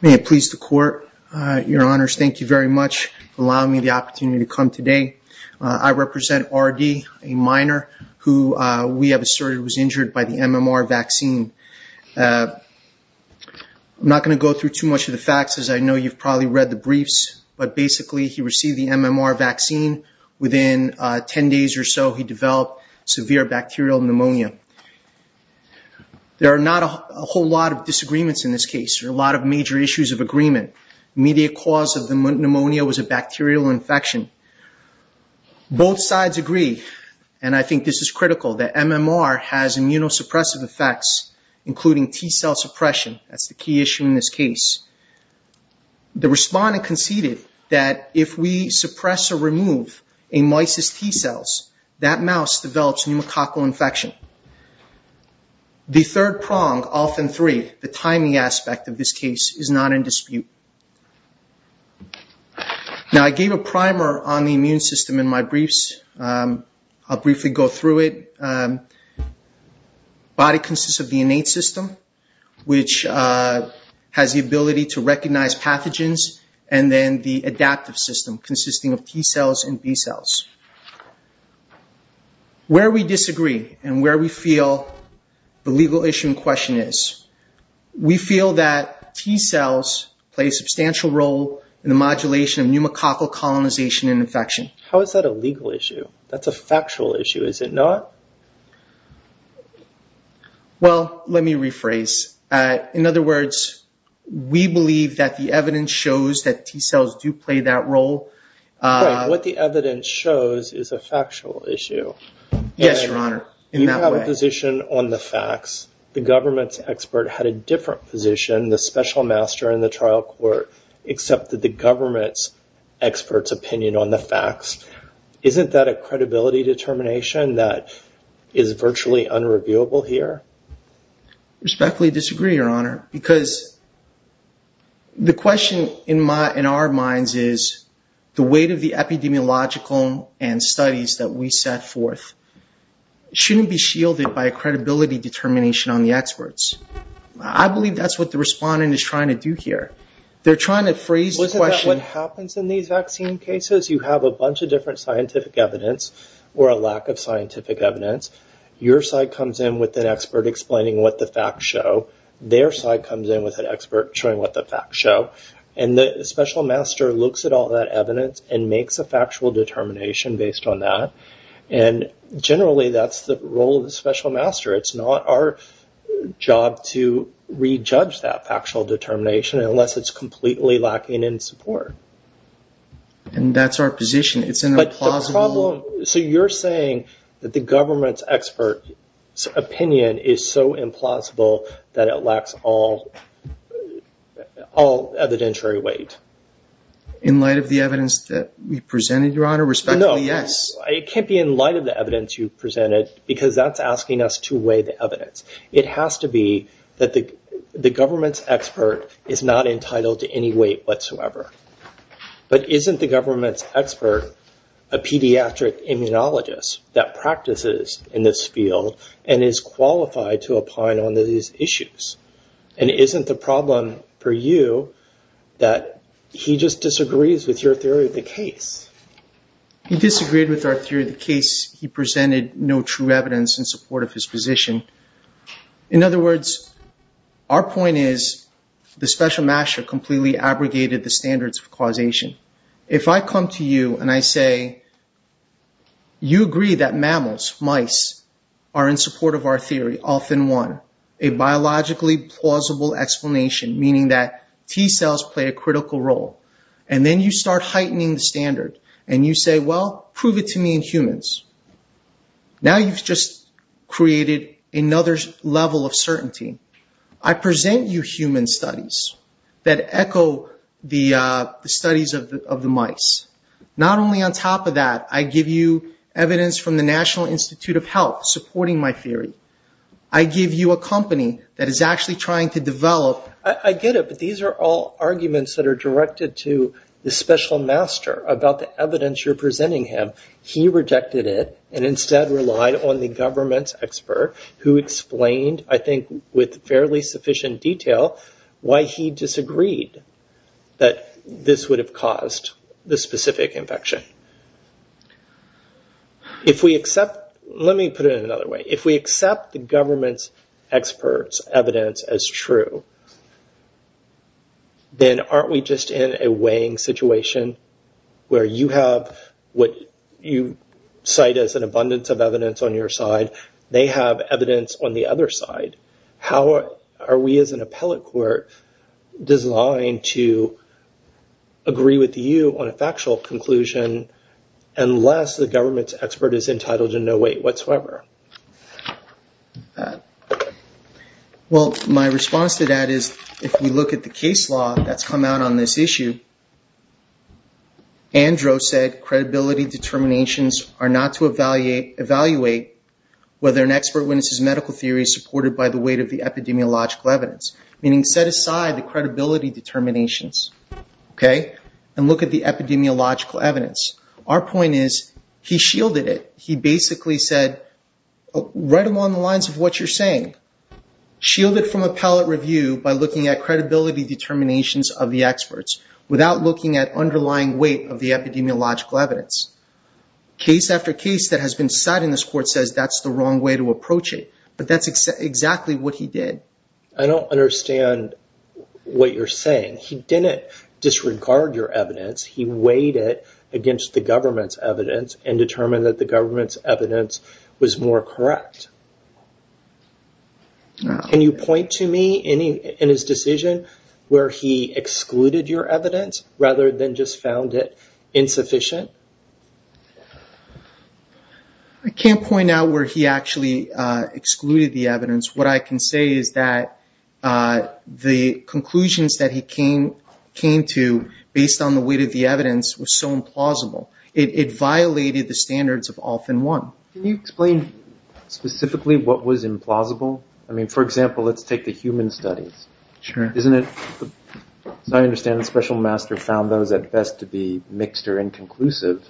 May it please the court, your honors, thank you very much for allowing me the opportunity to come today. I represent R.D., a minor, who we have asserted was injured by the MMR vaccine. I'm not going to go through too much of the facts, as I know you've probably read the briefs, but basically he received the MMR vaccine. Within 10 days or so, he developed severe bacterial pneumonia. There are not a whole lot of disagreements in this case, there are a lot of major issues of agreement. The immediate cause of the pneumonia was a bacterial infection. Both sides agree, and I think this is critical, that MMR has immunosuppressive effects, including T-cell suppression. That's the key issue in this case. The respondent conceded that if we suppress or remove a mice's T-cells, that mouse develops pneumococcal infection. The third prong, often three, the timing aspect of this case, is not in dispute. Now I gave a primer on the immune system in my briefs. I'll briefly go through it. The immune system has the ability to recognize pathogens, and then the adaptive system, consisting of T-cells and B-cells. Where we disagree, and where we feel the legal issue in question is, we feel that T-cells play a substantial role in the modulation of pneumococcal colonization and infection. How is that a legal issue? That's a factual issue, is it not? Well, let me rephrase. In other words, we believe that the evidence shows that T-cells do play that role. Right. What the evidence shows is a factual issue. Yes, Your Honor. In that way. You have a position on the facts. The government's expert had a different position. The special master in the trial court accepted the government's expert's opinion on the facts. Isn't that a credibility determination that is virtually unreviewable here? I respectfully disagree, Your Honor, because the question in our minds is, the weight of the epidemiological and studies that we set forth shouldn't be shielded by a credibility determination on the experts. I believe that's what the respondent is trying to do here. They're trying to phrase the question- Isn't that what happens in these vaccine cases? You have a bunch of different scientific evidence, a lack of scientific evidence. Your side comes in with an expert explaining what the facts show. Their side comes in with an expert showing what the facts show. The special master looks at all that evidence and makes a factual determination based on that. Generally, that's the role of the special master. It's not our job to re-judge that factual determination unless it's completely lacking in support. That's our position. It's an implausible- The problem... You're saying that the government's expert's opinion is so implausible that it lacks all evidentiary weight. In light of the evidence that we presented, Your Honor? Respectfully, yes. No. It can't be in light of the evidence you presented because that's asking us to weigh the evidence. It has to be that the government's expert is not entitled to any weight whatsoever. But isn't the government's expert a pediatric immunologist that practices in this field and is qualified to opine on these issues? Isn't the problem for you that he just disagrees with your theory of the case? He disagreed with our theory of the case. He presented no true evidence in support of his position. In other words, our point is the special master completely abrogated the standards of causation. If I come to you and I say, you agree that mammals, mice, are in support of our theory, often one, a biologically plausible explanation, meaning that T-cells play a critical role. Then you start heightening the standard and you say, well, prove it to me in humans. Now you've just created another level of certainty. I present you human studies that echo the studies of the mice. Not only on top of that, I give you evidence from the National Institute of Health supporting my theory. I give you a company that is actually trying to develop... I get it, but these are all arguments that are directed to the special master about the evidence you're presenting him. He rejected it and instead relied on the government's expert who explained, I think with fairly sufficient detail, why he disagreed that this would have caused the specific infection. Let me put it in another way. If we accept the government's evidence as true, then aren't we just in a weighing situation where you have what you cite as an abundance of evidence on your side, they have evidence on the other side. How are we as an appellate court designed to agree with you on a factual conclusion unless the government's expert is entitled to no weight whatsoever? Well, my response to that is if we look at the case law that's come out on this issue, Andrew said credibility determinations are not to evaluate whether an expert witnesses medical theory supported by the weight of the epidemiological evidence, meaning set aside the credibility determinations and look at the epidemiological evidence. Our point is he shielded from appellate review by looking at credibility determinations of the experts without looking at underlying weight of the epidemiological evidence. Case after case that has been cited in this court says that's the wrong way to approach it, but that's exactly what he did. I don't understand what you're saying. He didn't disregard your evidence. He weighed it against the government's evidence and determined that government's evidence was more correct. Can you point to me in his decision where he excluded your evidence rather than just found it insufficient? I can't point out where he actually excluded the evidence. What I can say is that the conclusions that he came to based on the weight of the evidence was so implausible. It violated the standards of often one. Can you explain specifically what was implausible? For example, let's take the human studies. As I understand it, the special master found those at best to be mixed or inconclusive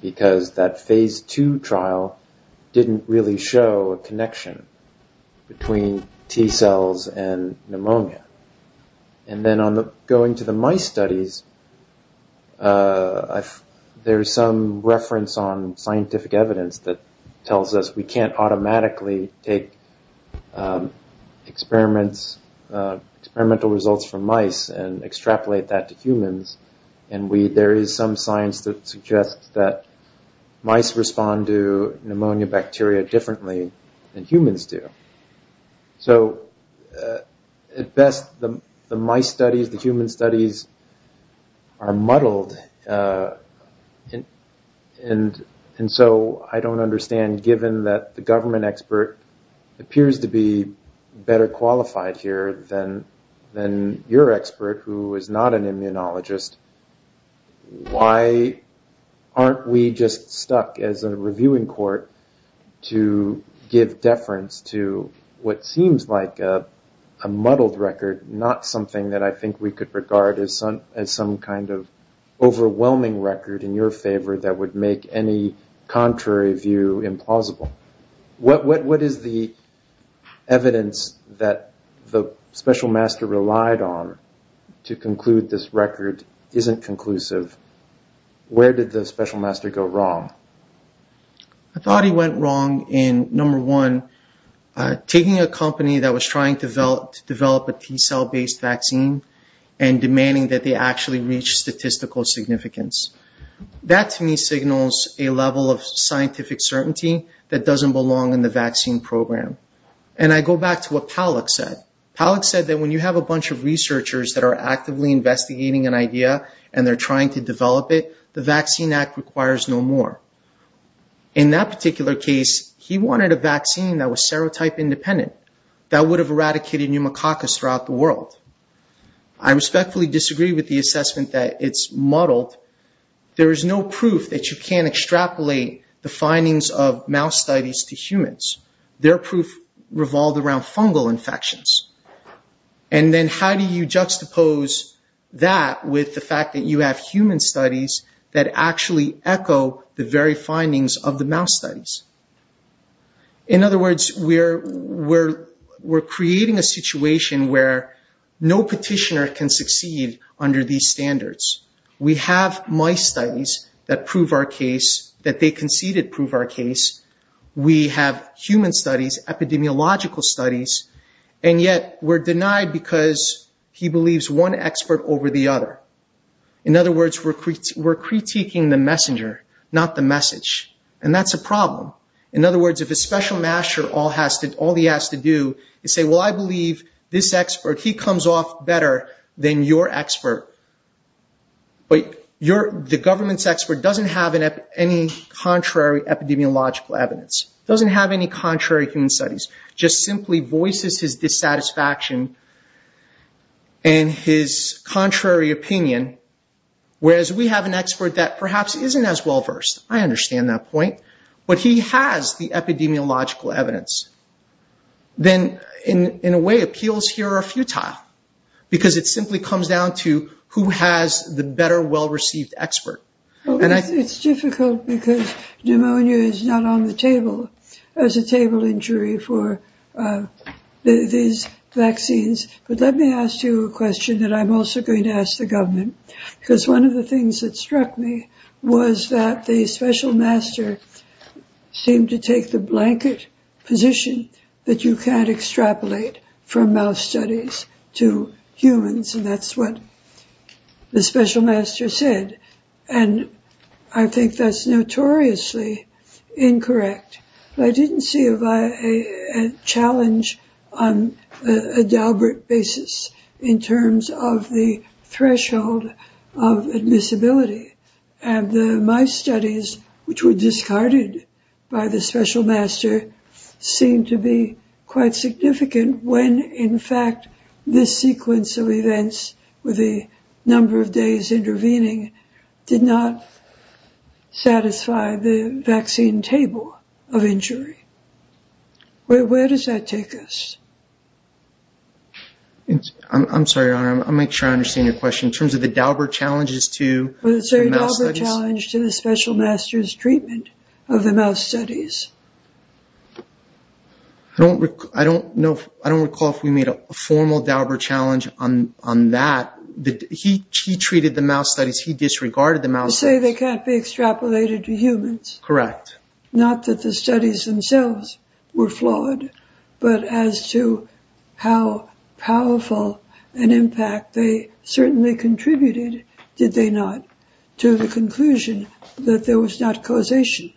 because that phase two trial didn't really show a connection between T cells and pneumonia. Then going to the mice studies, there's some reference on scientific evidence that tells us we can't automatically take experimental results from mice and extrapolate that to humans. There is some science that mice respond to pneumonia bacteria differently than humans do. At best, the mice studies, the human studies are muddled. I don't understand given that the government expert appears to be better qualified here than your expert who is not an immunologist. Why aren't we just stuck as a reviewing court to give deference to what seems like a muddled record, not something that I think we could regard as some kind of overwhelming record in your favor that would make any contrary view implausible? What is the evidence that the special master relied on to conclude this record isn't conclusive? Where did the special master go wrong? I thought he went wrong in number one, taking a company that was trying to develop a T cell-based vaccine and demanding that they actually reach statistical significance. That to me signals a level of scientific certainty that doesn't belong in the vaccine program. And I go back to what Palak said. Palak said that when you have a bunch of researchers that are actively investigating an idea and they're trying to develop it, the Vaccine Act requires no more. In that particular case, he wanted a vaccine that was serotype independent, that would have eradicated pneumococcus throughout the world. I respectfully disagree with the assessment that it's muddled. There is no proof that you can't extrapolate the findings of mouse studies to revolve around fungal infections. And then how do you juxtapose that with the fact that you have human studies that actually echo the very findings of the mouse studies? In other words, we're creating a situation where no petitioner can succeed under these standards. We have mice studies that prove our case, that they conceded prove our case. We have human studies, epidemiological studies, and yet we're denied because he believes one expert over the other. In other words, we're critiquing the messenger, not the message. And that's a problem. In other words, if a special master, all he has to do is say, well, I believe this expert, he comes off better than your expert. But the government's expert doesn't have any contrary epidemiological evidence, doesn't have any contrary human studies, just simply voices his dissatisfaction and his contrary opinion, whereas we have an expert that perhaps isn't as well-versed. I understand that point. But he has the epidemiological evidence. Then, in a way, appeals here are futile because it simply comes down to who has the better, well-received expert. It's difficult because pneumonia is not on the table as a table injury for these vaccines. But let me ask you a question that I'm also going to ask the government, because one of the things that struck me was that the special master seemed to take the blanket position that you can't extrapolate from mouse studies to humans. And that's what the special master said. And I think that's notoriously incorrect. I didn't see a challenge on a deliberate basis in terms of the threshold of admissibility. And my studies, which were discarded by the special master, seemed to be quite significant when, in fact, this sequence of events with a number of days intervening did not satisfy the vaccine table of injury. Where does that take us? I'm sorry, I'll make sure I understand your question. In treatment of the mouse studies. I don't recall if we made a formal Dauber challenge on that. He treated the mouse studies. He disregarded the mouse studies. Say they can't be extrapolated to humans. Correct. Not that the studies themselves were flawed, but as to how powerful an impact they contributed, did they not? To the conclusion that there was not causation.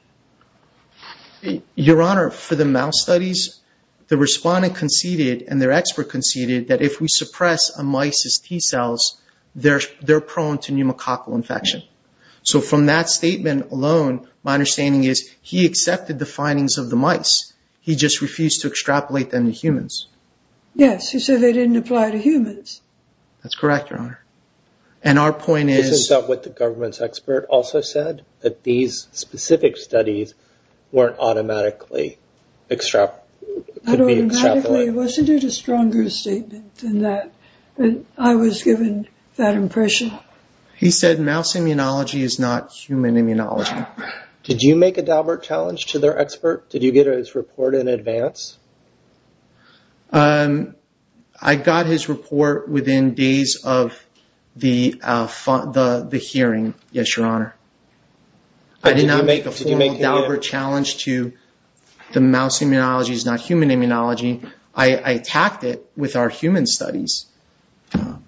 Your Honor, for the mouse studies, the respondent conceded and their expert conceded that if we suppress a mice's T cells, they're prone to pneumococcal infection. So from that statement alone, my understanding is he accepted the findings of the mice. He just refused to extrapolate them to humans. Yes. He said they didn't apply to humans. That's correct, Your Honor. And our point is... Isn't that what the government's expert also said? That these specific studies weren't automatically extrapolated? Not automatically. Wasn't it a stronger statement than that? I was given that impression. He said mouse immunology is not human immunology. Did you make a Dauber challenge to their expert? Did you get his report in advance? I got his report within days of the hearing. Yes, Your Honor. I did not make a formal Dauber challenge to the mouse immunology is not human immunology. I attacked it with our human studies. I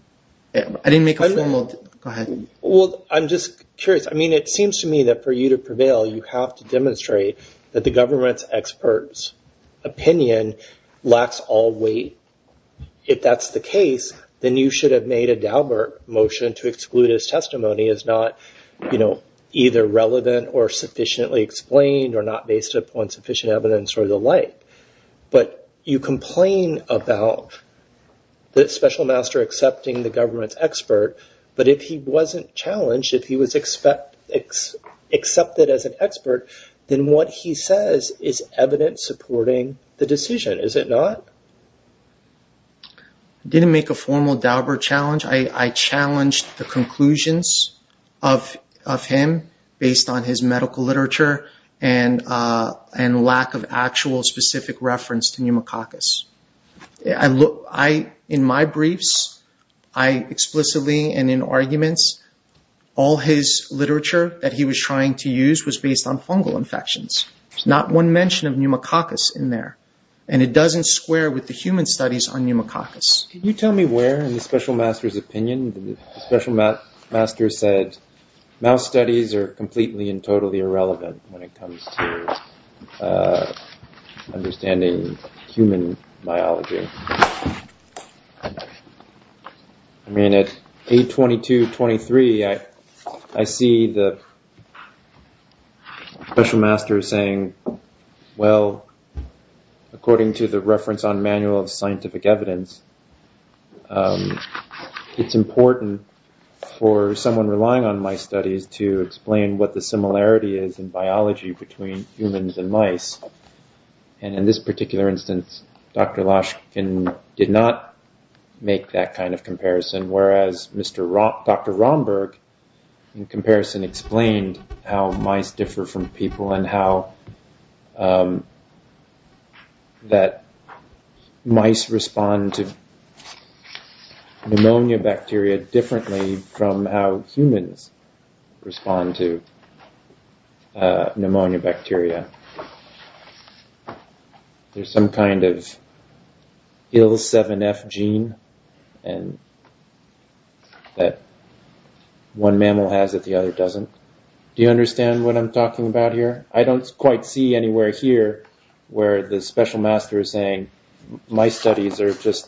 didn't make a formal... Go ahead. Well, I'm just curious. It seems to me that for you to prevail, you have to demonstrate that the government's expert's opinion lacks all weight. If that's the case, then you should have made a Dauber motion to exclude his testimony as not either relevant or sufficiently explained or not based upon sufficient evidence or the like. But you complain about the special master accepting the government's expert, but if he wasn't challenged, if he was accepted as an expert, then what he says is evidence supporting the decision. Is it not? I didn't make a formal Dauber challenge. I challenged the conclusions of him based on his medical literature and lack of actual specific reference to pneumococcus. I look... In my briefs, I explicitly and in arguments, all his literature that he was trying to use was based on fungal infections, not one mention of pneumococcus in there. And it doesn't square with the human studies on pneumococcus. Can you tell me where in the special master's opinion, the special master said, mouse studies are completely and totally irrelevant when it comes to understanding human biology? I mean, at 8.22.23, I see the special master saying, well, according to the reference on manual of scientific evidence, it's important for someone relying on my studies to explain what the similarity is in biology between humans and mice. And in this particular instance, Dr. Lashkin did not make that kind of comparison. Whereas Dr. Romberg in comparison explained how mice differ from people and how that mice respond to pneumonia bacteria differently from how humans respond to pneumonia bacteria. There's some kind of IL-7F gene and that one mammal has it, the other doesn't. Do you understand what I'm talking about here? I don't quite see anywhere here where the special master is saying, my studies are just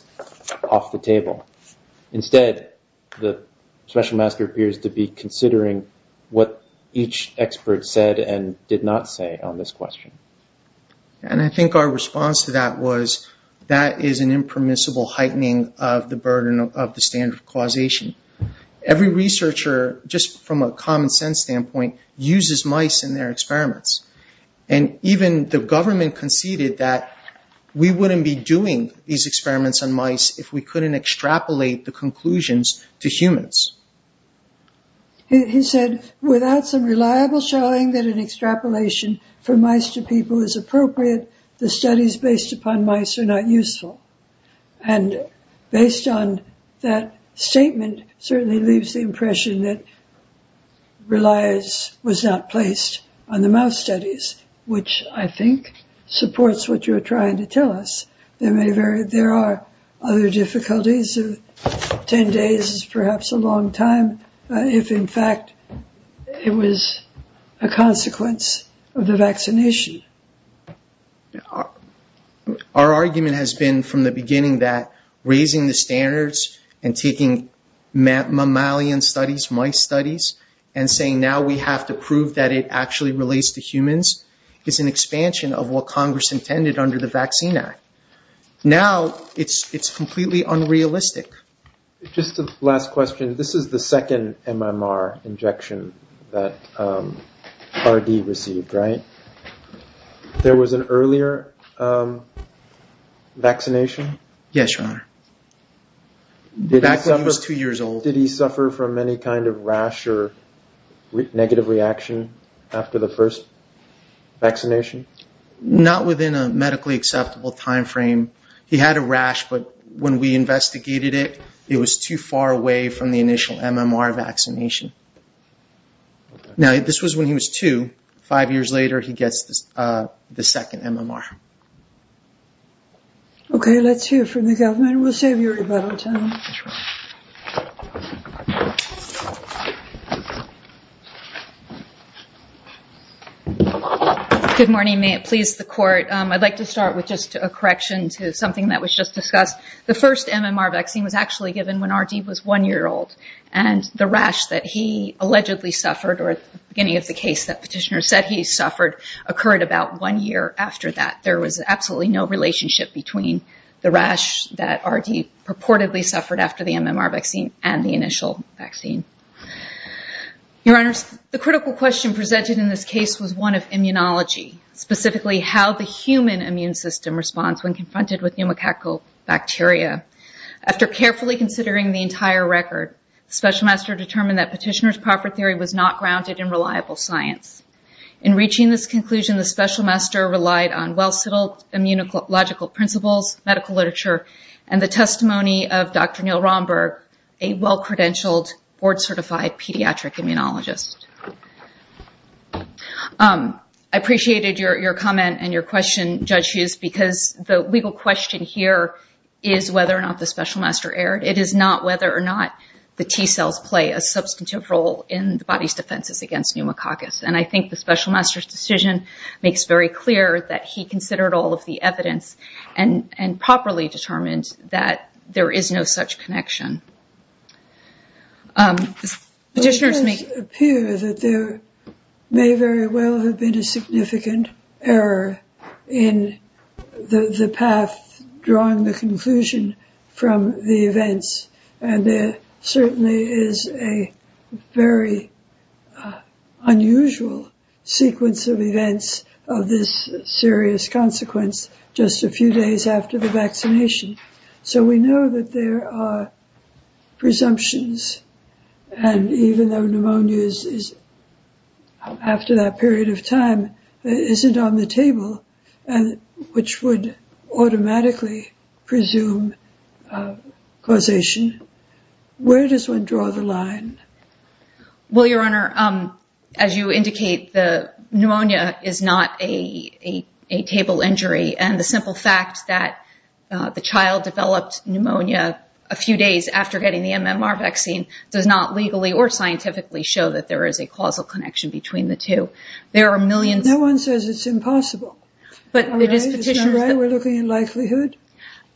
off the table. Instead, the special master appears to be considering what each expert said and did not say on this question. And I think our response to that was, that is an impermissible heightening of the burden of the standard of causation. Every researcher, just from a common sense standpoint, uses mice in their experiments. And even the government conceded that we wouldn't be doing these experiments on mice if we couldn't extrapolate the conclusions to humans. He said, without some reliable showing that an extrapolation from mice to people is appropriate, the studies based upon mice are not useful. And based on that statement certainly leaves the impression that reliance was not placed on the mouse studies, which I think supports what you're trying to tell us. There are other difficulties of 10 days is perhaps a long time, if in fact it was a consequence of the vaccination. Our argument has been from the beginning that raising the standards and taking mammalian studies, mice studies, and saying now we have to prove that it actually relates to humans is an expansion of what Congress intended under the Vaccine Act. Now it's completely unrealistic. Just a last question. This is the second MMR injection that R.D. received, right? There was an earlier vaccination? Yes, Your Honor. Back when he was two years old. Did he suffer from any kind of rash or negative reaction after the first vaccination? Not within a medically acceptable time frame. He had a rash, but when we investigated it, it was too far away from the initial MMR vaccination. Now this was when he was two. Five years later, he gets the second MMR. Okay, let's hear from the government. We'll save you a little time. Good morning. May it please the court. I'd like to start with just a correction to something that was just discussed. The first MMR vaccine was actually given when R.D. was one year old, and the rash that he allegedly suffered, or at the beginning of the case that petitioner said suffered, occurred about one year after that. There was absolutely no relationship between the rash that R.D. purportedly suffered after the MMR vaccine and the initial vaccine. Your Honor, the critical question presented in this case was one of immunology, specifically how the human immune system responds when confronted with pneumococcal bacteria. After carefully considering the entire record, the special master determined that reaching this conclusion, the special master relied on well-settled immunological principles, medical literature, and the testimony of Dr. Neil Romberg, a well-credentialed, board-certified pediatric immunologist. I appreciated your comment and your question, Judge Hughes, because the legal question here is whether or not the special master erred. It is not whether or not the T-cells play a role in the special master's decision. It makes very clear that he considered all of the evidence and properly determined that there is no such connection. It does appear that there may very well have been a significant error in the path drawing the conclusion from the events, and there certainly is a very unusual sequence of events of this serious consequence just a few days after the vaccination. So we know that there are presumptions, and even though pneumonia is, after that period of time, isn't on the table, which would automatically presume causation, where does one draw the line? Well, Your Honor, as you indicate, the pneumonia is not a table injury, and the simple fact that the child developed pneumonia a few days after getting the MMR vaccine does not legally or scientifically show that there is a causal connection between the two. There are millions... No one says it's impossible. Is that right? We're looking at likelihood?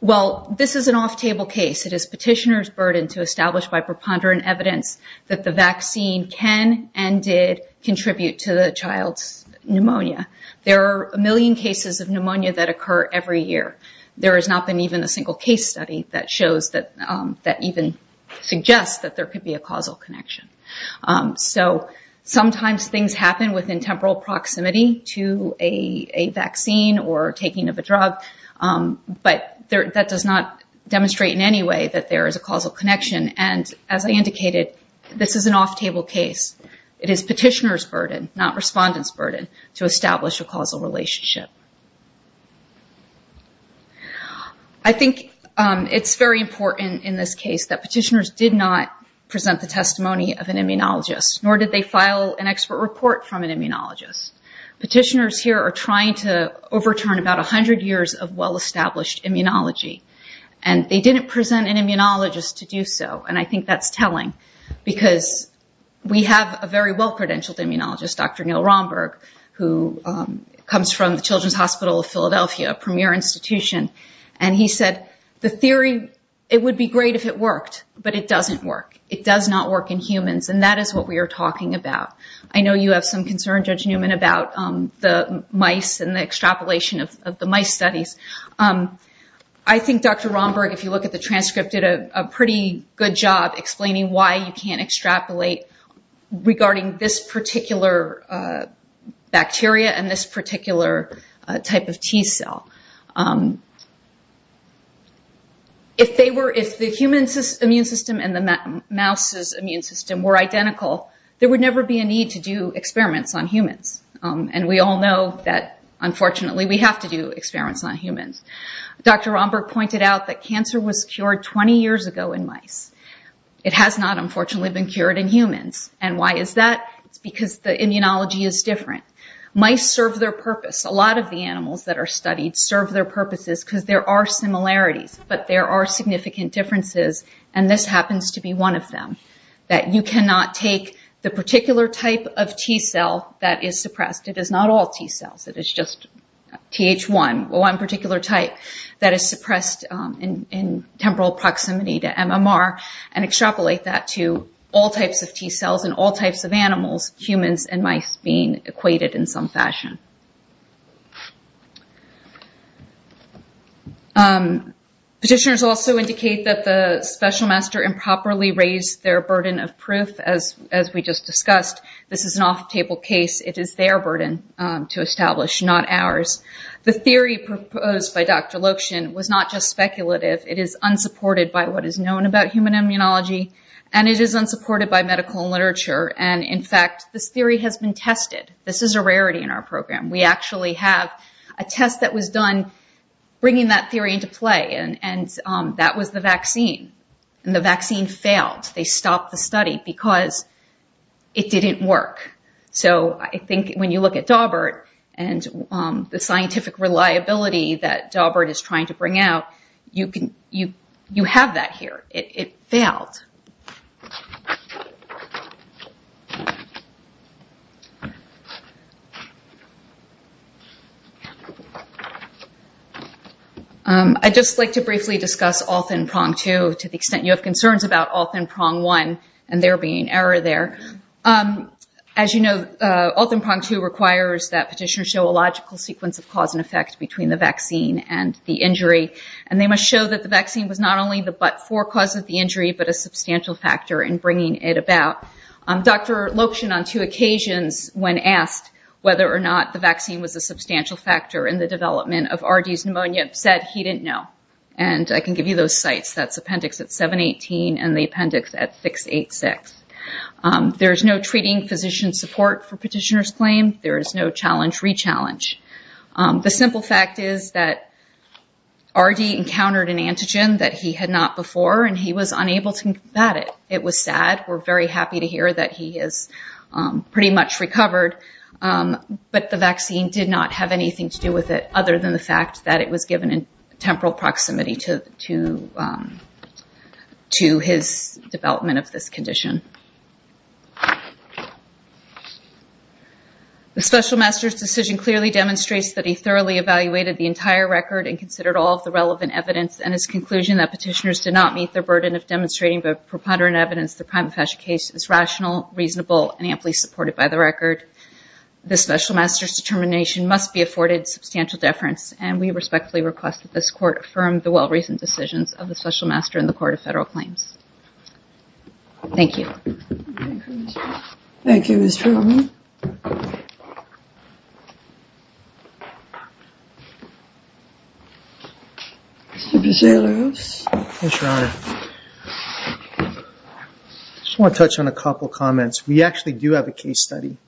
Well, this is an off-table case. It is petitioner's burden to establish by preponderant evidence that the vaccine can and did contribute to the child's pneumonia. There are a million cases of pneumonia that occur every year. There has not been even a single case study that shows that even suggests that there could be a causal connection. So sometimes things happen within temporal proximity to a vaccine or taking of a drug, but that does not demonstrate in any way that there is a causal connection. And as I indicated, this is an off-table case. It is petitioner's burden, not respondent's burden, to establish a causal relationship. I think it's very important in this case that petitioners did not present the testimony of an immunologist. Petitioners here are trying to overturn about 100 years of well-established immunology, and they didn't present an immunologist to do so. And I think that's telling, because we have a very well-credentialed immunologist, Dr. Neil Romberg, who comes from the Children's Hospital of Philadelphia, a premier institution. And he said, the theory, it would be great if it worked, but it doesn't work. It does not work in humans, and that is what we are talking about. I know you have some concern, Judge Newman, about the mice and the extrapolation of the mice studies. I think Dr. Romberg, if you look at the transcript, did a pretty good job explaining why you can't extrapolate regarding this particular bacteria and this particular type of T-cell. If the human immune system and the mouse's immune system were identical, there would never be a need to do experiments on humans. And we all know that, unfortunately, we have to do experiments on humans. Dr. Romberg pointed out that cancer was cured 20 years ago in mice. It has not, unfortunately, been cured in humans. And why is that? It's because the immunology is different. Mice serve their purpose. A lot of the animals that are studied serve their purposes because there are similarities, but there are significant differences, and this happens to be one of them, that you cannot take the particular type of T-cell that is suppressed. It is not all T-cells. It is just Th1, one particular type that is suppressed in temporal proximity to MMR, and extrapolate that to all types of T-cells in all types of animals, humans, and mice being equated in some fashion. Petitioners also indicate that the special master improperly raised their burden of proof, as we just discussed. This is an off-table case. It is their burden to establish, not ours. The theory proposed by Dr. Lokshin was not just speculative. It is unsupported by what is known about human immunology, and it is unsupported by medical literature. And, in fact, this theory has been tested. This is a rarity in our program. We actually have a test that was done bringing that theory into play, and that was the vaccine. The vaccine failed. They stopped the study because it didn't work. I think when you look at Daubert and the scientific reliability that they have, it is a very good example. I would just like to briefly discuss Altenprong-2 to the extent you have concerns about Altenprong-1 and there being error there. As you know, Altenprong-2 requires that petitioners show a logical sequence of cause and effect between the vaccine and the injury, and they must show that the vaccine was not only the but-for cause of the injury, but a substantial factor in bringing it about. Dr. Lokshin, on two occasions when asked whether or not the vaccine was a substantial factor in the development of RD's pneumonia, said he didn't know. And I can give you those sites. That's Appendix 718 and the Appendix 686. There is no treating physician support for petitioner's claim. There is no challenge-rechallenge. The simple fact is that we're very happy to hear that he has pretty much recovered, but the vaccine did not have anything to do with it other than the fact that it was given in temporal proximity to his development of this condition. The special master's decision clearly demonstrates that he thoroughly evaluated the entire record and considered all of the relevant evidence and his conclusion that petitioners did not meet their burden of demonstrating the preponderant evidence the prima facie case is rational, reasonable, and amply supported by the record. The special master's determination must be afforded substantial deference, and we respectfully request that this Court affirm the well-recent decisions of the special master in the Court of Federal Claims. Thank you. Thank you, Mr. O'Rourke. Mr. DeSalos. Thanks, Your Honor. I just want to touch on a couple of comments. We actually do have a case study,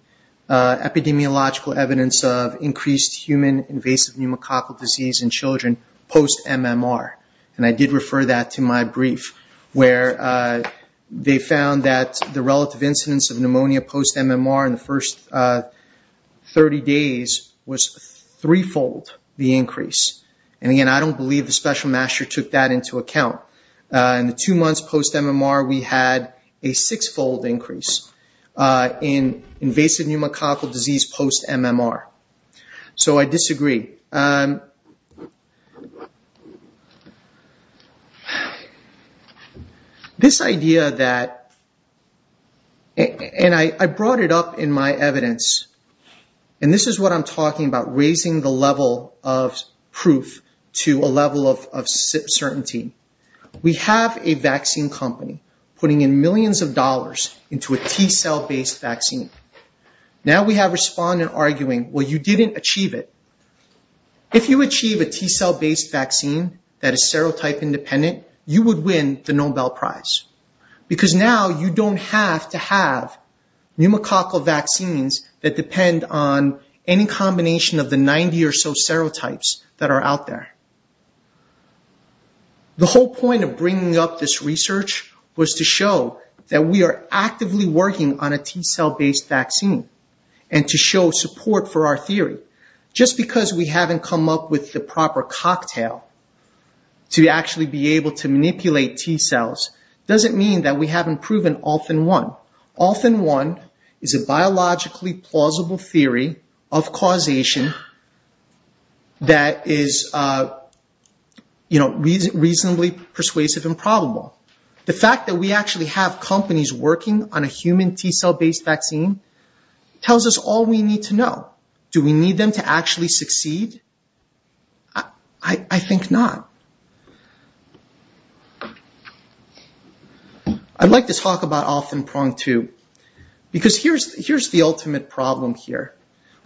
epidemiological evidence of increased human invasive pneumococcal disease in children post-MMR, and I did refer that to my brief, where they found that the relative incidence of pneumonia post-MMR in the first 30 days was threefold the increase. And again, I don't believe the special master took that into account. In the two months post-MMR, we had a sixfold increase in invasive pneumococcal disease post-MMR. So I disagree. This idea that, and I brought it up in my evidence, and this is what I'm talking about, raising the level of proof to a level of certainty. We have a vaccine company putting in millions of dollars into a T cell-based vaccine. Now we have respondents arguing, well, you didn't achieve it. If you achieve a T cell-based vaccine that is serotype-independent, you would win the Nobel Prize, because now you don't have to have pneumococcal vaccines that depend on any combination of the 90 or so serotypes that are out there. The whole point of bringing up this research was to show that we are actively working on a T cell-based vaccine and to show support for our theory. Just because we haven't come up with the proper cocktail to actually be able to manipulate T cells doesn't mean that we haven't proven all in one. All in one is a biologically plausible theory of causation that is reasonably persuasive and probable. The fact that we actually have companies working on a human T cell-based vaccine tells us all we need to know. Do we need them to actually succeed? I think not. I'd like to talk about off-and-prong, too, because here's the ultimate problem here.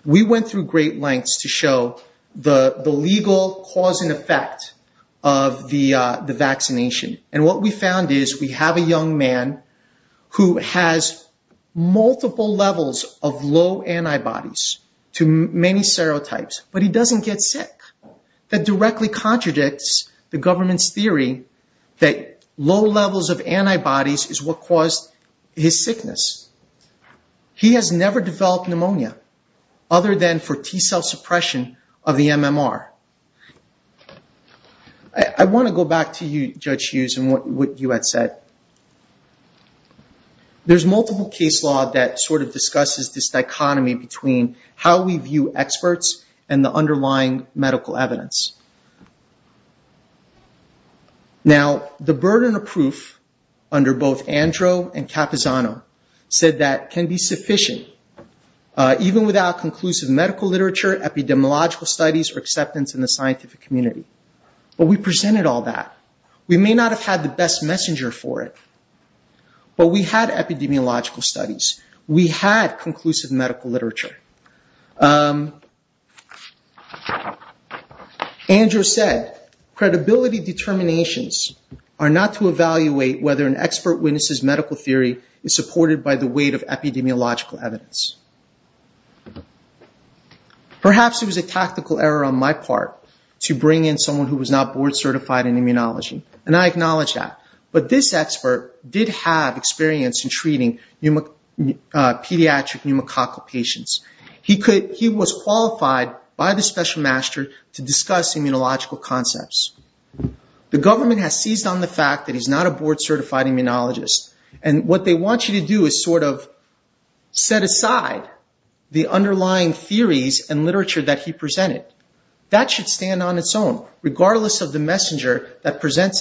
We went through great lengths to show the legal cause and effect of the vaccination, and what we found is we have a young man who has multiple levels of low antibodies to many serotypes, but he doesn't get sick. That directly contradicts the government's theory that low levels of antibodies is what caused his sickness. He has never developed pneumonia, other than for what you had said. There's multiple case law that sort of discusses this dichotomy between how we view experts and the underlying medical evidence. Now, the burden of proof under both Andro and Capizano said that can be sufficient, even without conclusive medical literature, epidemiological studies, or acceptance in the best messenger for it. But we had epidemiological studies. We had conclusive medical literature. Andro said, credibility determinations are not to evaluate whether an expert witnesses medical theory is supported by the weight of epidemiological evidence. Perhaps it was a tactical error on my part to bring in someone who was not board certified in immunology, and I acknowledge that. But this expert did have experience in treating pediatric pneumococcal patients. He was qualified by the special master to discuss immunological concepts. The government has seized on the fact that he's not a board certified immunologist, and what they want you to do is sort of set aside the underlying theories and literature that he presents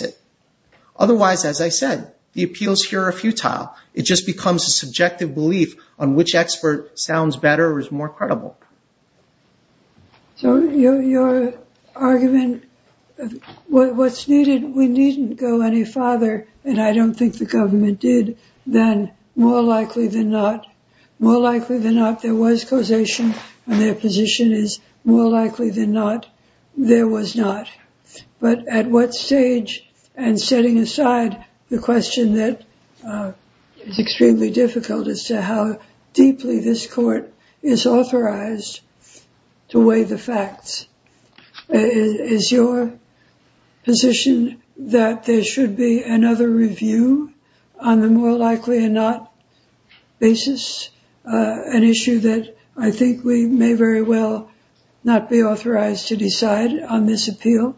it. Otherwise, as I said, the appeals here are futile. It just becomes a subjective belief on which expert sounds better or is more credible. So your argument, what's needed, we needn't go any farther, and I don't think the government did, than more likely than not. More likely than not, there was causation, and their position is more likely than not, there was not. But at what stage, and setting aside the question that is extremely difficult as to how deeply this court is authorized to weigh the facts, is your position that there should be another review on the more likely than not basis? An issue that I think we may very well not be authorized to decide on this appeal.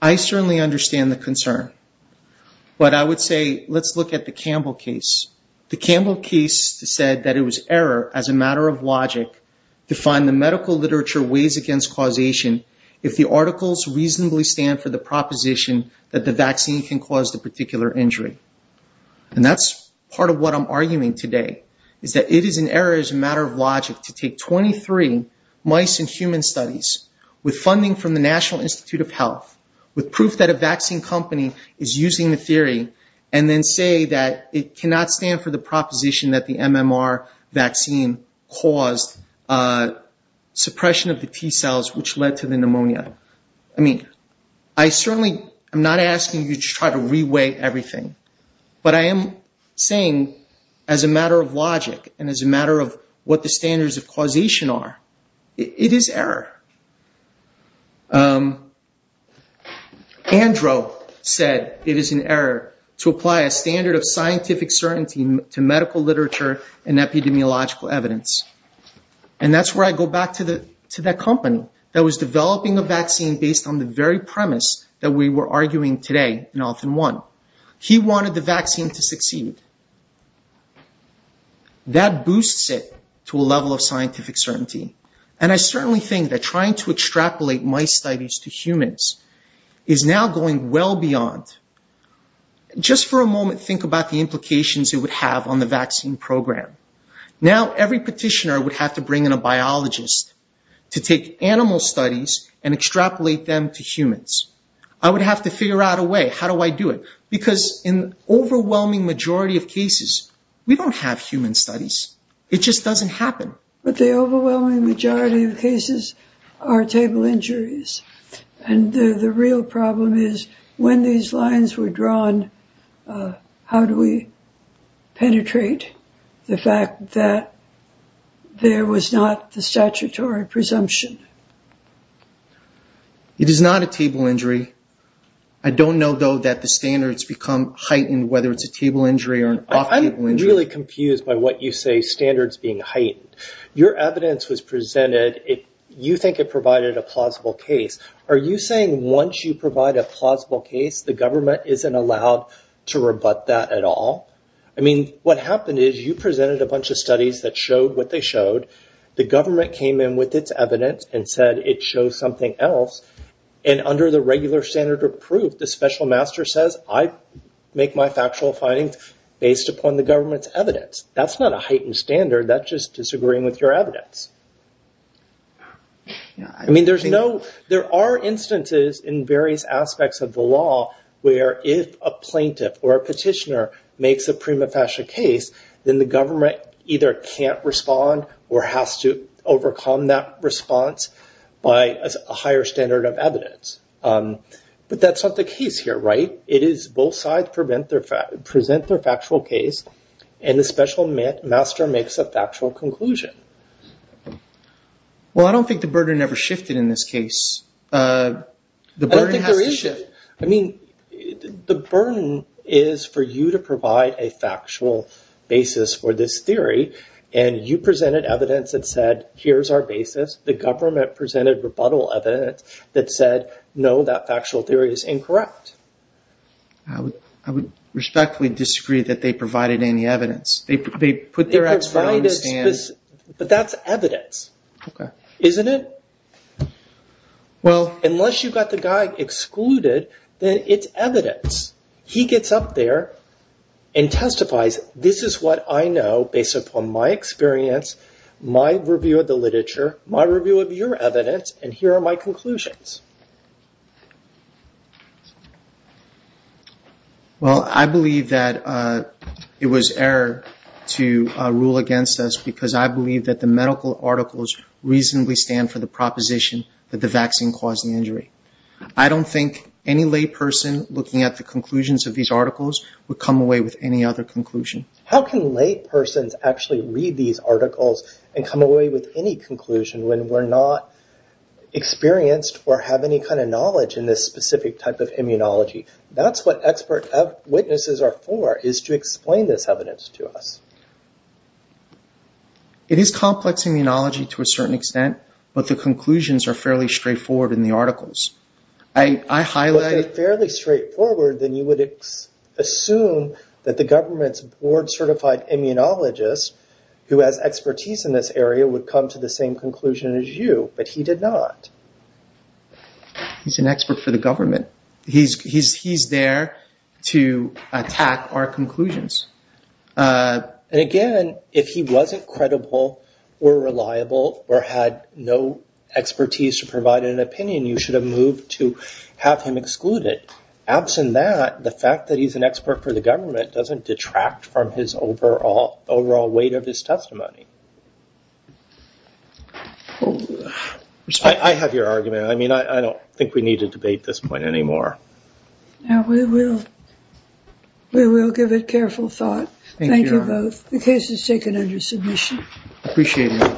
I certainly understand the concern, but I would say let's look at the Campbell case. The Campbell case said that it was error as a matter of logic to find the medical literature weighs against causation if the articles reasonably stand for the proposition that the vaccine can cause the particular injury. And that's part of what I'm arguing today, is that it is an error as a matter of logic to take 23 mice and human studies with funding from the National Institute of Health, with proof that a vaccine company is using the theory, and then say that it cannot stand for the proposition that the MMR vaccine caused suppression of the T-cells which led to the pneumonia. I mean, I certainly am not asking you to try to re-weigh everything, but I am saying as a matter of logic and as a matter of what the standards of causation are, it is error. Andrew said it is an error to apply a standard of scientific certainty to medical literature and epidemiological evidence. And that's where I go back to that company that was developing a vaccine based on the very premise that we were arguing today in often one. He wanted the vaccine to succeed. That boosts it to a level of scientific certainty. And I certainly think that trying to extrapolate mice studies to humans is now going well beyond. Just for a moment, think about the implications it would have on the vaccine program. Now every petitioner would have to bring in a biologist to take animal studies and extrapolate them to humans. I would have to figure out a way. How do I do it? Because in the overwhelming majority of cases, we don't have human studies. It just doesn't happen. But the overwhelming majority of cases are table injuries. And the real problem is when these lines were drawn, how do we penetrate the fact that there was not the statutory presumption? It is not a table injury. I don't know, though, that the standards become heightened, whether it's a table injury or an off table injury. I'm really confused by what you say, standards being heightened. Your evidence was presented. You think it provided a plausible case. Are you saying once you provide a plausible case, the government isn't allowed to rebut that at all? I mean, what happened is you presented a bunch of studies that showed what they showed. The government came in with its evidence and said it shows something else. And under the regular standard of proof, the special master says, I make my factual findings based upon the government's evidence. That's not a heightened standard. That's just disagreeing with your evidence. I mean, there are instances in various aspects of the law where if a plaintiff or a has to overcome that response by a higher standard of evidence. But that's not the case here, right? It is both sides present their factual case and the special master makes a factual conclusion. Well, I don't think the burden ever shifted in this case. I mean, the burden is for you to provide a factual basis for this theory and you presented evidence that said, here's our basis. The government presented rebuttal evidence that said, no, that factual theory is incorrect. I would respectfully disagree that they provided any evidence. They put their expert on the stand. But that's evidence, isn't it? Unless you got the guy excluded, then it's evidence. He gets up there and testifies, this is what I know based upon my experience, my review of the literature, my review of your evidence, and here are my conclusions. Well, I believe that it was error to rule against us because I believe that the medical articles reasonably stand for the proposition that the vaccine caused the injury. I don't think any person looking at the conclusions of these articles would come away with any other conclusion. How can lay persons actually read these articles and come away with any conclusion when we're not experienced or have any kind of knowledge in this specific type of immunology? That's what expert witnesses are for, is to explain this evidence to us. It is complex immunology to a certain extent, but the conclusions are fairly straightforward in the articles. I highlight- If they're fairly straightforward, then you would assume that the government's board-certified immunologist who has expertise in this area would come to the same conclusion as you, but he did not. He's an expert for the government. He's there to attack our conclusions. And again, if he wasn't credible or reliable or had no expertise to provide an opinion, you should have moved to have him excluded. Absent that, the fact that he's an expert for the government doesn't detract from his overall weight of his testimony. I have your argument. I mean, I don't think we need to debate this point anymore. No, we will. We will give it careful thought. Thank you both. The case is taken under submission. Appreciate it.